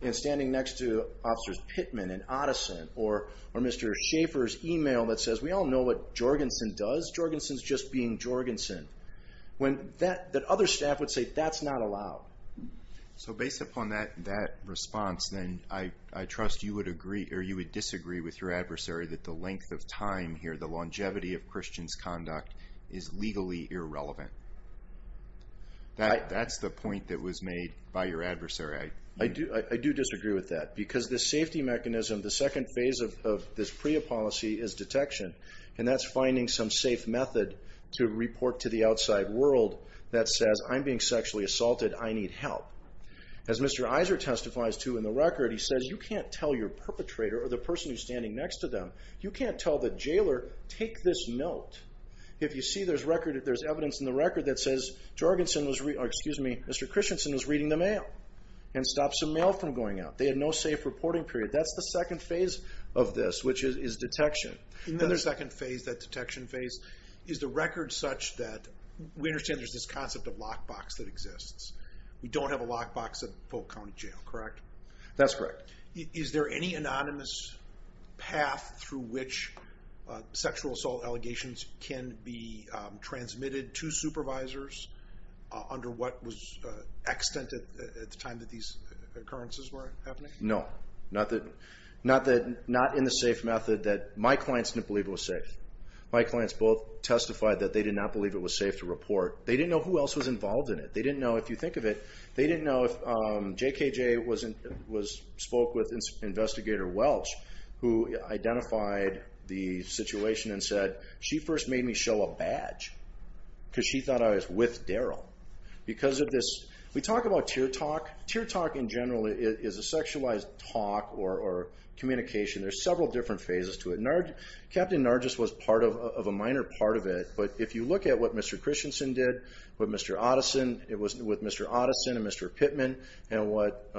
and standing next to Officers Pittman and Otteson or Mr. Schaefer's email that says, we all know what Jorgensen does, Jorgensen's just being Jorgensen, that other staff would say, that's not allowed. So based upon that response, then I trust you would agree with your adversary that the length of time here, the longevity of Christian's conduct is legally irrelevant. That's the point that was made by your adversary. I do disagree with that because the safety mechanism, the second phase of this PREA policy is detection, and that's finding some safe method to report to the outside world that says, I'm being sexually assaulted, I need help. As Mr. Iser testifies to in the record, he says, you can't tell your perpetrator or the person who's standing next to them, you can't tell the jailer, take this note. If you see there's evidence in the record that says, Mr. Christensen was reading the mail and stopped some mail from going out. They had no safe reporting period. That's the second phase of this, which is detection. And then the second phase, that detection phase, is the record such that we understand there's this concept of lockbox that exists. We don't have a lockbox at Polk County Jail, correct? That's correct. Is there any anonymous path through which sexual assault allegations can be transmitted to supervisors under what was extant at the time that these occurrences were happening? No. Not in the safe method that my clients didn't believe it was safe. My clients both testified that they did not believe it was safe to report. They didn't know who else was involved in it. They didn't know, if you think of it, they didn't know if JKJ spoke with Investigator Welch, who identified the situation and said, she first made me show a badge because she thought I was with Daryl. Because of this, we talk about tear talk. Tear talk in general is a sexualized talk or communication. There's several different phases to it. Captain Nargis was part of a minor part of it, but if you look at what Mr. Christensen did with Mr. Otteson and Mr. Pittman and what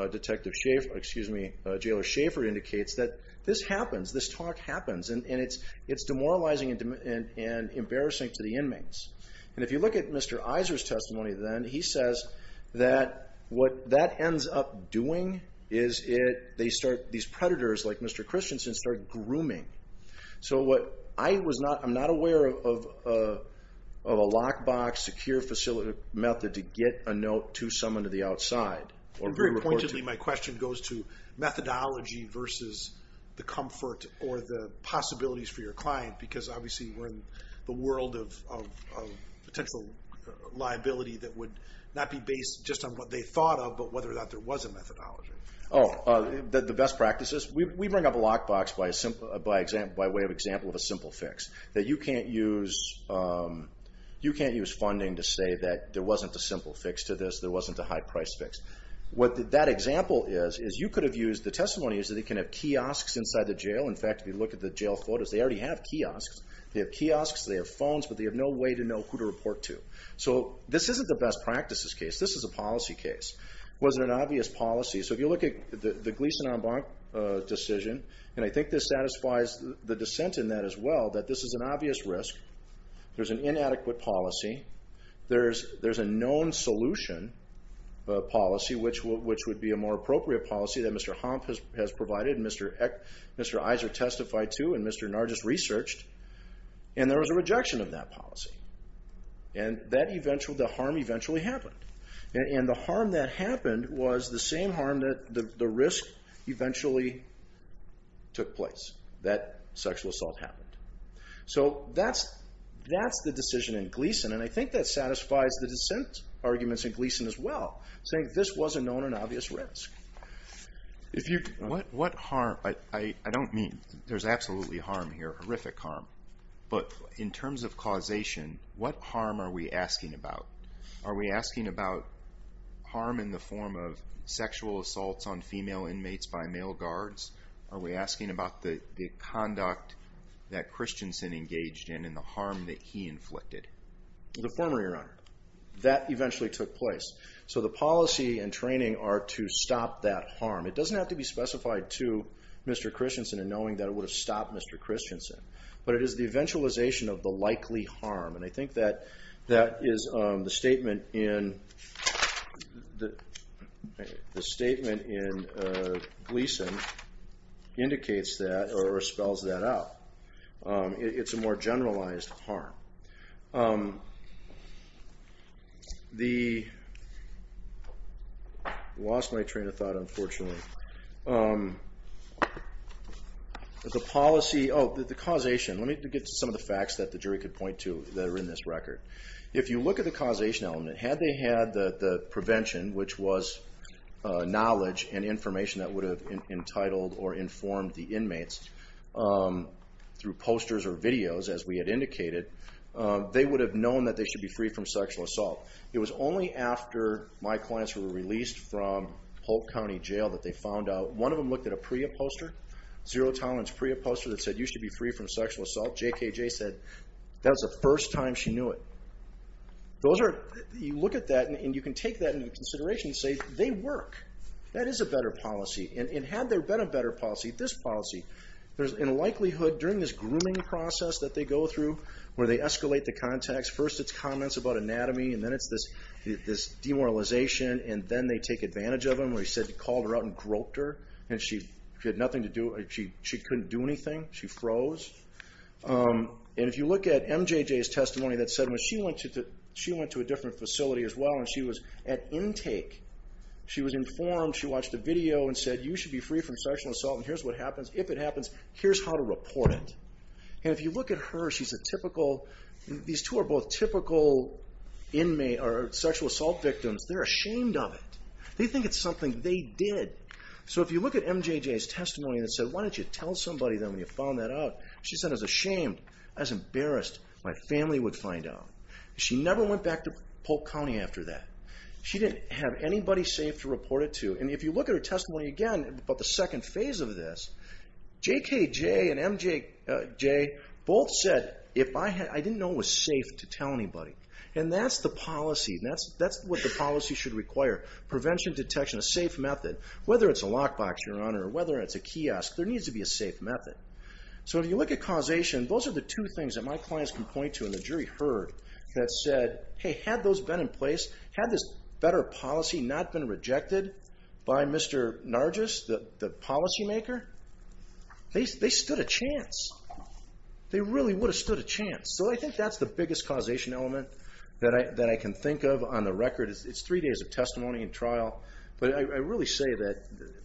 Jailor Schaffer indicates, that this happens, this talk happens, and it's demoralizing and embarrassing to the inmates. And if you look at Mr. Iser's testimony then, he says that what that ends up doing is these predators like Mr. Christensen start grooming. I'm not aware of a lockbox, secure facility method to get a note to someone to the outside. Very pointedly, my question goes to methodology versus the comfort or the possibilities for your client. Because obviously we're in the world of potential liability that would not be based just on what they thought of, but whether or not there was a methodology. Oh, the best practices. We bring up a lockbox by way of example of a simple fix, that you can't use funding to say that there wasn't a simple fix to this, there wasn't a high-price fix. What that example is, is you could have used the testimony so they can have kiosks inside the jail. In fact, if you look at the jail photos, they already have kiosks. They have kiosks, they have phones, but they have no way to know who to report to. So this isn't the best practices case. This is a policy case. Was it an obvious policy? So if you look at the Gleason-Embank decision, and I think this satisfies the dissent in that as well, that this is an obvious risk. There's an inadequate policy. There's a known solution policy, which would be a more appropriate policy that Mr. Hump has provided and Mr. Iser testified to and Mr. Nargis researched, and there was a rejection of that policy. And the harm eventually happened. And the harm that happened was the same harm that the risk eventually took place, that sexual assault happened. So that's the decision in Gleason, and I think that satisfies the dissent arguments in Gleason as well, saying this was a known and obvious risk. What harm? I don't mean there's absolutely harm here, horrific harm, but in terms of causation, what harm are we asking about? Are we asking about harm in the form of sexual assaults on female inmates by male guards? Are we asking about the conduct that Christensen engaged in and the harm that he inflicted? The former, Your Honor. That eventually took place. So the policy and training are to stop that harm. It doesn't have to be specified to Mr. Christensen in knowing that it would have stopped Mr. Christensen, but it is the eventualization of the likely harm, and I think that is the statement in Gleason indicates that or spells that out. It's a more generalized harm. I lost my train of thought, unfortunately. The policy, oh, the causation. Let me get to some of the facts that the jury could point to that are in this record. If you look at the causation element, had they had the prevention, which was knowledge and information that would have entitled or informed the inmates through posters or videos, as we had indicated, they would have known that they should be free from sexual assault. It was only after my clients were released from Polk County Jail that they found out. One of them looked at a PREA poster, zero-tolerance PREA poster, that said you should be free from sexual assault. JKJ said that was the first time she knew it. You look at that, and you can take that into consideration and say they work. That is a better policy. Had there been a better policy, this policy, in likelihood during this grooming process that they go through where they escalate the context, first it's comments about anatomy, and then it's this demoralization, and then they take advantage of him where he said he called her out and groped her, and she had nothing to do. She couldn't do anything. She froze. If you look at MJJ's testimony that said when she went to a different facility as well and she was at intake, she was informed. She watched a video and said you should be free from sexual assault, and here's what happens. If it happens, here's how to report it. If you look at her, these two are both typical sexual assault victims. They're ashamed of it. They think it's something they did. So if you look at MJJ's testimony that said, why didn't you tell somebody then when you found that out? She said, I was ashamed. I was embarrassed. My family would find out. She never went back to Polk County after that. She didn't have anybody safe to report it to. And if you look at her testimony again about the second phase of this, JKJ and MJJ both said, I didn't know it was safe to tell anybody. And that's the policy. That's what the policy should require, prevention, detection, a safe method. Whether it's a lockbox, Your Honor, or whether it's a kiosk, there needs to be a safe method. So if you look at causation, those are the two things that my clients can point to and the jury heard that said, hey, had those been in place, had this better policy not been rejected by Mr. Nargis, the policymaker, they stood a chance. They really would have stood a chance. So I think that's the biggest causation element that I can think of on the record. It's three days of testimony and trial. But I really say that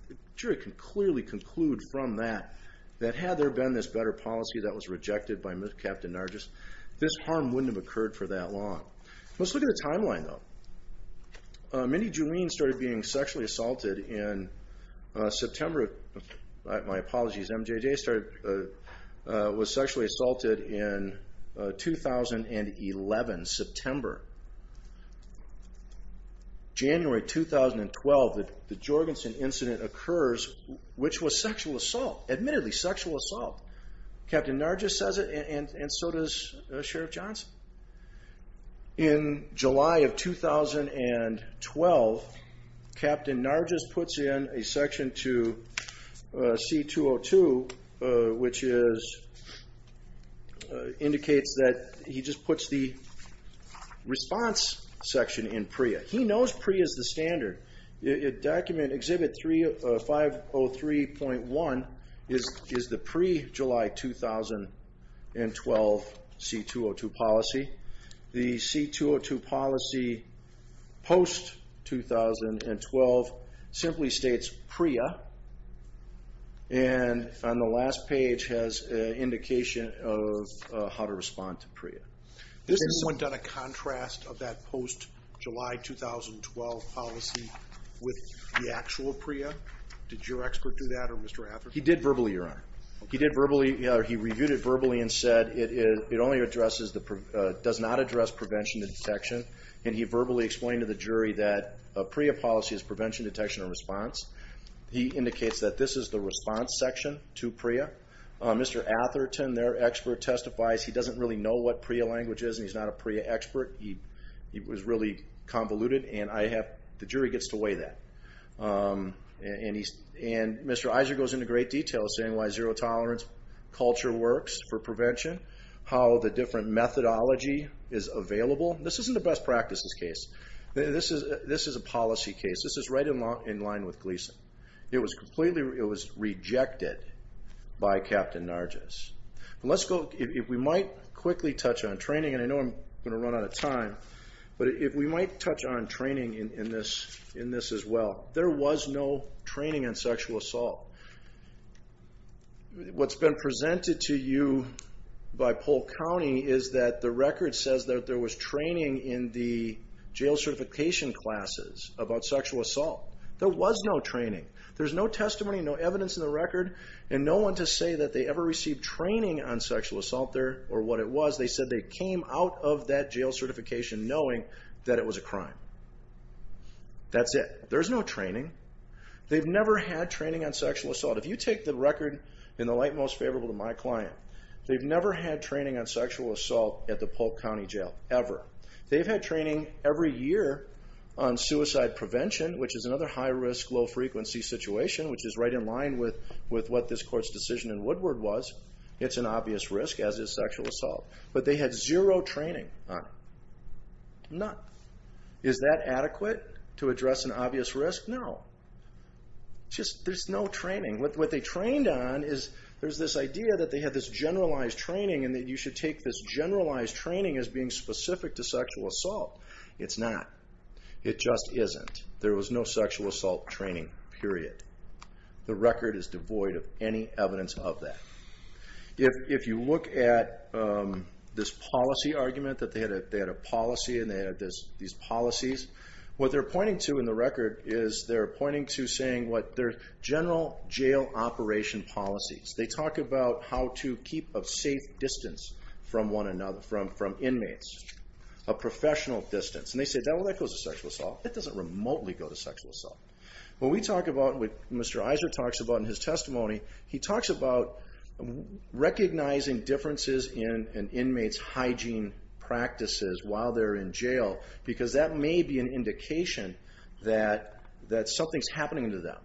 the jury can clearly conclude from that, that had there been this better policy that was rejected by Captain Nargis, this harm wouldn't have occurred for that long. Let's look at the timeline, though. Mindy Juleen started being sexually assaulted in September. My apologies. MJJ was sexually assaulted in 2011, September. January 2012, the Jorgensen incident occurs, which was sexual assault, admittedly sexual assault. Captain Nargis says it and so does Sheriff Johnson. In July of 2012, Captain Nargis puts in a section to C-202, which indicates that he just puts the response section in PREA. He knows PREA is the standard. Document Exhibit 503.1 is the pre-July 2012 C-202 policy. The C-202 policy post-2012 simply states PREA. And on the last page has an indication of how to respond to PREA. Has anyone done a contrast of that post-July 2012 policy with the actual PREA? Did your expert do that or Mr. Atherton? He did verbally, Your Honor. He did verbally, or he reviewed it verbally and said it only addresses the pre- does not address prevention and detection. And he verbally explained to the jury that PREA policy is prevention, detection, and response. He indicates that this is the response section to PREA. Mr. Atherton, their expert, testifies he doesn't really know what PREA language is and he's not a PREA expert. He was really convoluted, and the jury gets to weigh that. And Mr. Iser goes into great detail saying why zero tolerance culture works for prevention, how the different methodology is available. This isn't a best practices case. This is a policy case. This is right in line with Gleason. It was completely rejected by Captain Nargis. If we might quickly touch on training, and I know I'm going to run out of time, but if we might touch on training in this as well. There was no training in sexual assault. What's been presented to you by Polk County is that the record says that there was no training. There's no testimony, no evidence in the record, and no one to say that they ever received training on sexual assault there or what it was. They said they came out of that jail certification knowing that it was a crime. That's it. There's no training. They've never had training on sexual assault. If you take the record in the light most favorable to my client, they've never had training on sexual assault at the Polk County Jail, ever. They've had training every year on suicide prevention, which is another high-risk, low-frequency situation, which is right in line with what this court's decision in Woodward was. It's an obvious risk, as is sexual assault. But they had zero training on it. None. Is that adequate to address an obvious risk? No. There's no training. What they trained on is there's this idea that they had this generalized training and that you should take this generalized training as being specific to sexual assault. It's not. It just isn't. There was no sexual assault training, period. The record is devoid of any evidence of that. If you look at this policy argument that they had a policy and they had these policies, what they're pointing to in the record is they're pointing to saying what their general jail operation policies. They talk about how to keep a safe distance from inmates, a professional distance. And they say, well, that goes to sexual assault. That doesn't remotely go to sexual assault. When we talk about what Mr. Iser talks about in his testimony, he talks about recognizing differences in an inmate's hygiene practices while they're in jail because that may be an indication that something's happening to them,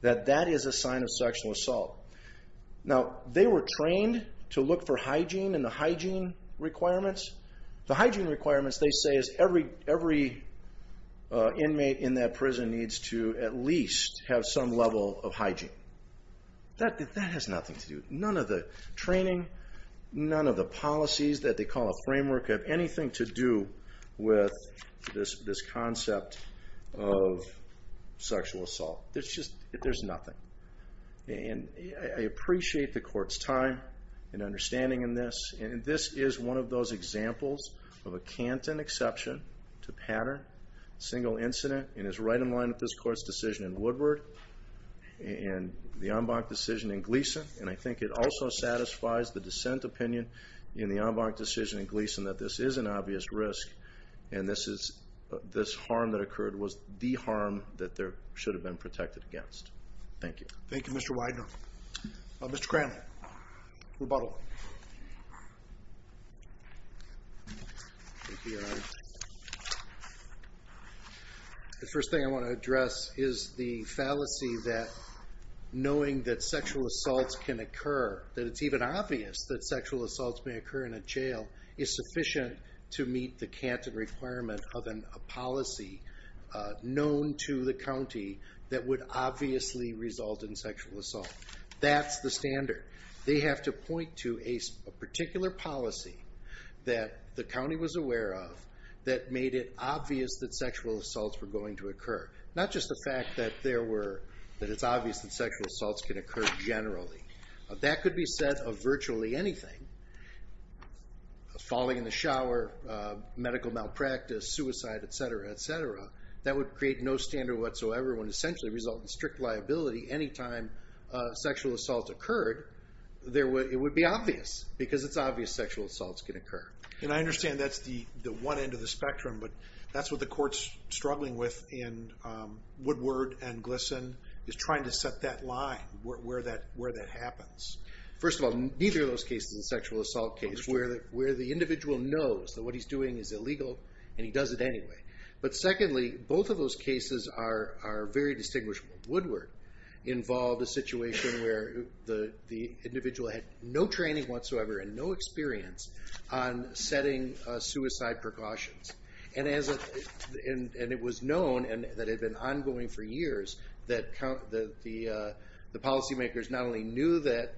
that that is a sign of sexual assault. Now, they were trained to look for hygiene and the hygiene requirements. The hygiene requirements, they say, is every inmate in that prison needs to at least have some level of hygiene. That has nothing to do with it. None of the training, none of the policies that they call a framework have anything to do with this concept of sexual assault. There's just nothing. And I appreciate the Court's time and understanding in this, and this is one of those examples of a Canton exception to pattern, single incident, and is right in line with this Court's decision in Woodward and the Ambach decision in Gleason. And I think it also satisfies the dissent opinion in the Ambach decision in Gleason that this is an obvious risk and this harm that occurred was the harm that there should have been protected against. Thank you. Thank you, Mr. Widener. Mr. Cranmer, rebuttal. The first thing I want to address is the fallacy that knowing that sexual assaults can occur, that it's even obvious that sexual assaults may occur in a jail, is sufficient to meet the Canton requirement of a policy known to the county that would obviously result in sexual assault. That's the standard. They have to point to a particular policy that the county was aware of that made it obvious that sexual assaults were going to occur, not just the fact that it's obvious that sexual assaults can occur generally. That could be said of virtually anything. Falling in the shower, medical malpractice, suicide, et cetera, et cetera. That would create no standard whatsoever and essentially result in strict liability any time sexual assaults occurred. It would be obvious because it's obvious sexual assaults can occur. And I understand that's the one end of the spectrum, but that's what the Court's struggling with in Woodward and Gleason is trying to set that line where that happens. First of all, neither of those cases is a sexual assault case where the individual knows that what he's doing is illegal and he does it anyway. But secondly, both of those cases are very distinguishable. Woodward involved a situation where the individual had no training whatsoever and no experience on setting suicide precautions. And it was known, and that had been ongoing for years, that the policymakers not only knew that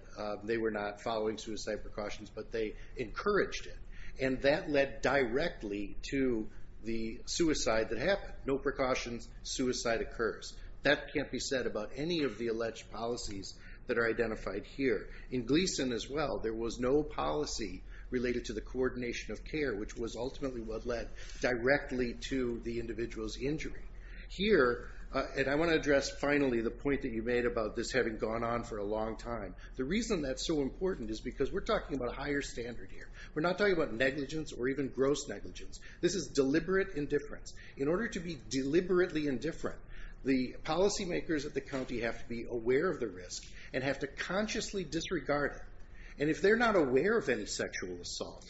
they were not following suicide precautions, but they encouraged it. And that led directly to the suicide that happened. No precautions, suicide occurs. That can't be said about any of the alleged policies that are identified here. In Gleason as well, there was no policy related to the coordination of care, which was ultimately what led directly to the individual's injury. Here, and I want to address finally the point that you made about this having gone on for a long time. The reason that's so important is because we're talking about a higher standard here. We're not talking about negligence or even gross negligence. This is deliberate indifference. In order to be deliberately indifferent, the policymakers at the county have to be aware of the risk and have to consciously disregard it. And if they're not aware of any sexual assault,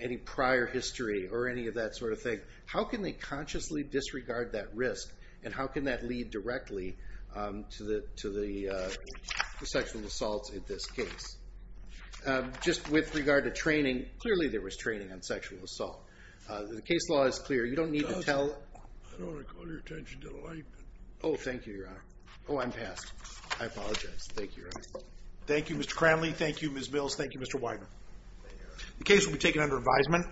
any prior history or any of that sort of thing, how can they consciously disregard that risk, and how can that lead directly to the sexual assaults in this case? Just with regard to training, clearly there was training on sexual assault. The case law is clear. You don't need to tell. I don't want to call your attention to the light. Oh, thank you, Your Honor. Oh, I'm past. I apologize. Thank you, Your Honor. Thank you, Mr. Cranley. Thank you, Ms. Mills. Thank you, Mr. Wyman. The case will be taken under advisement.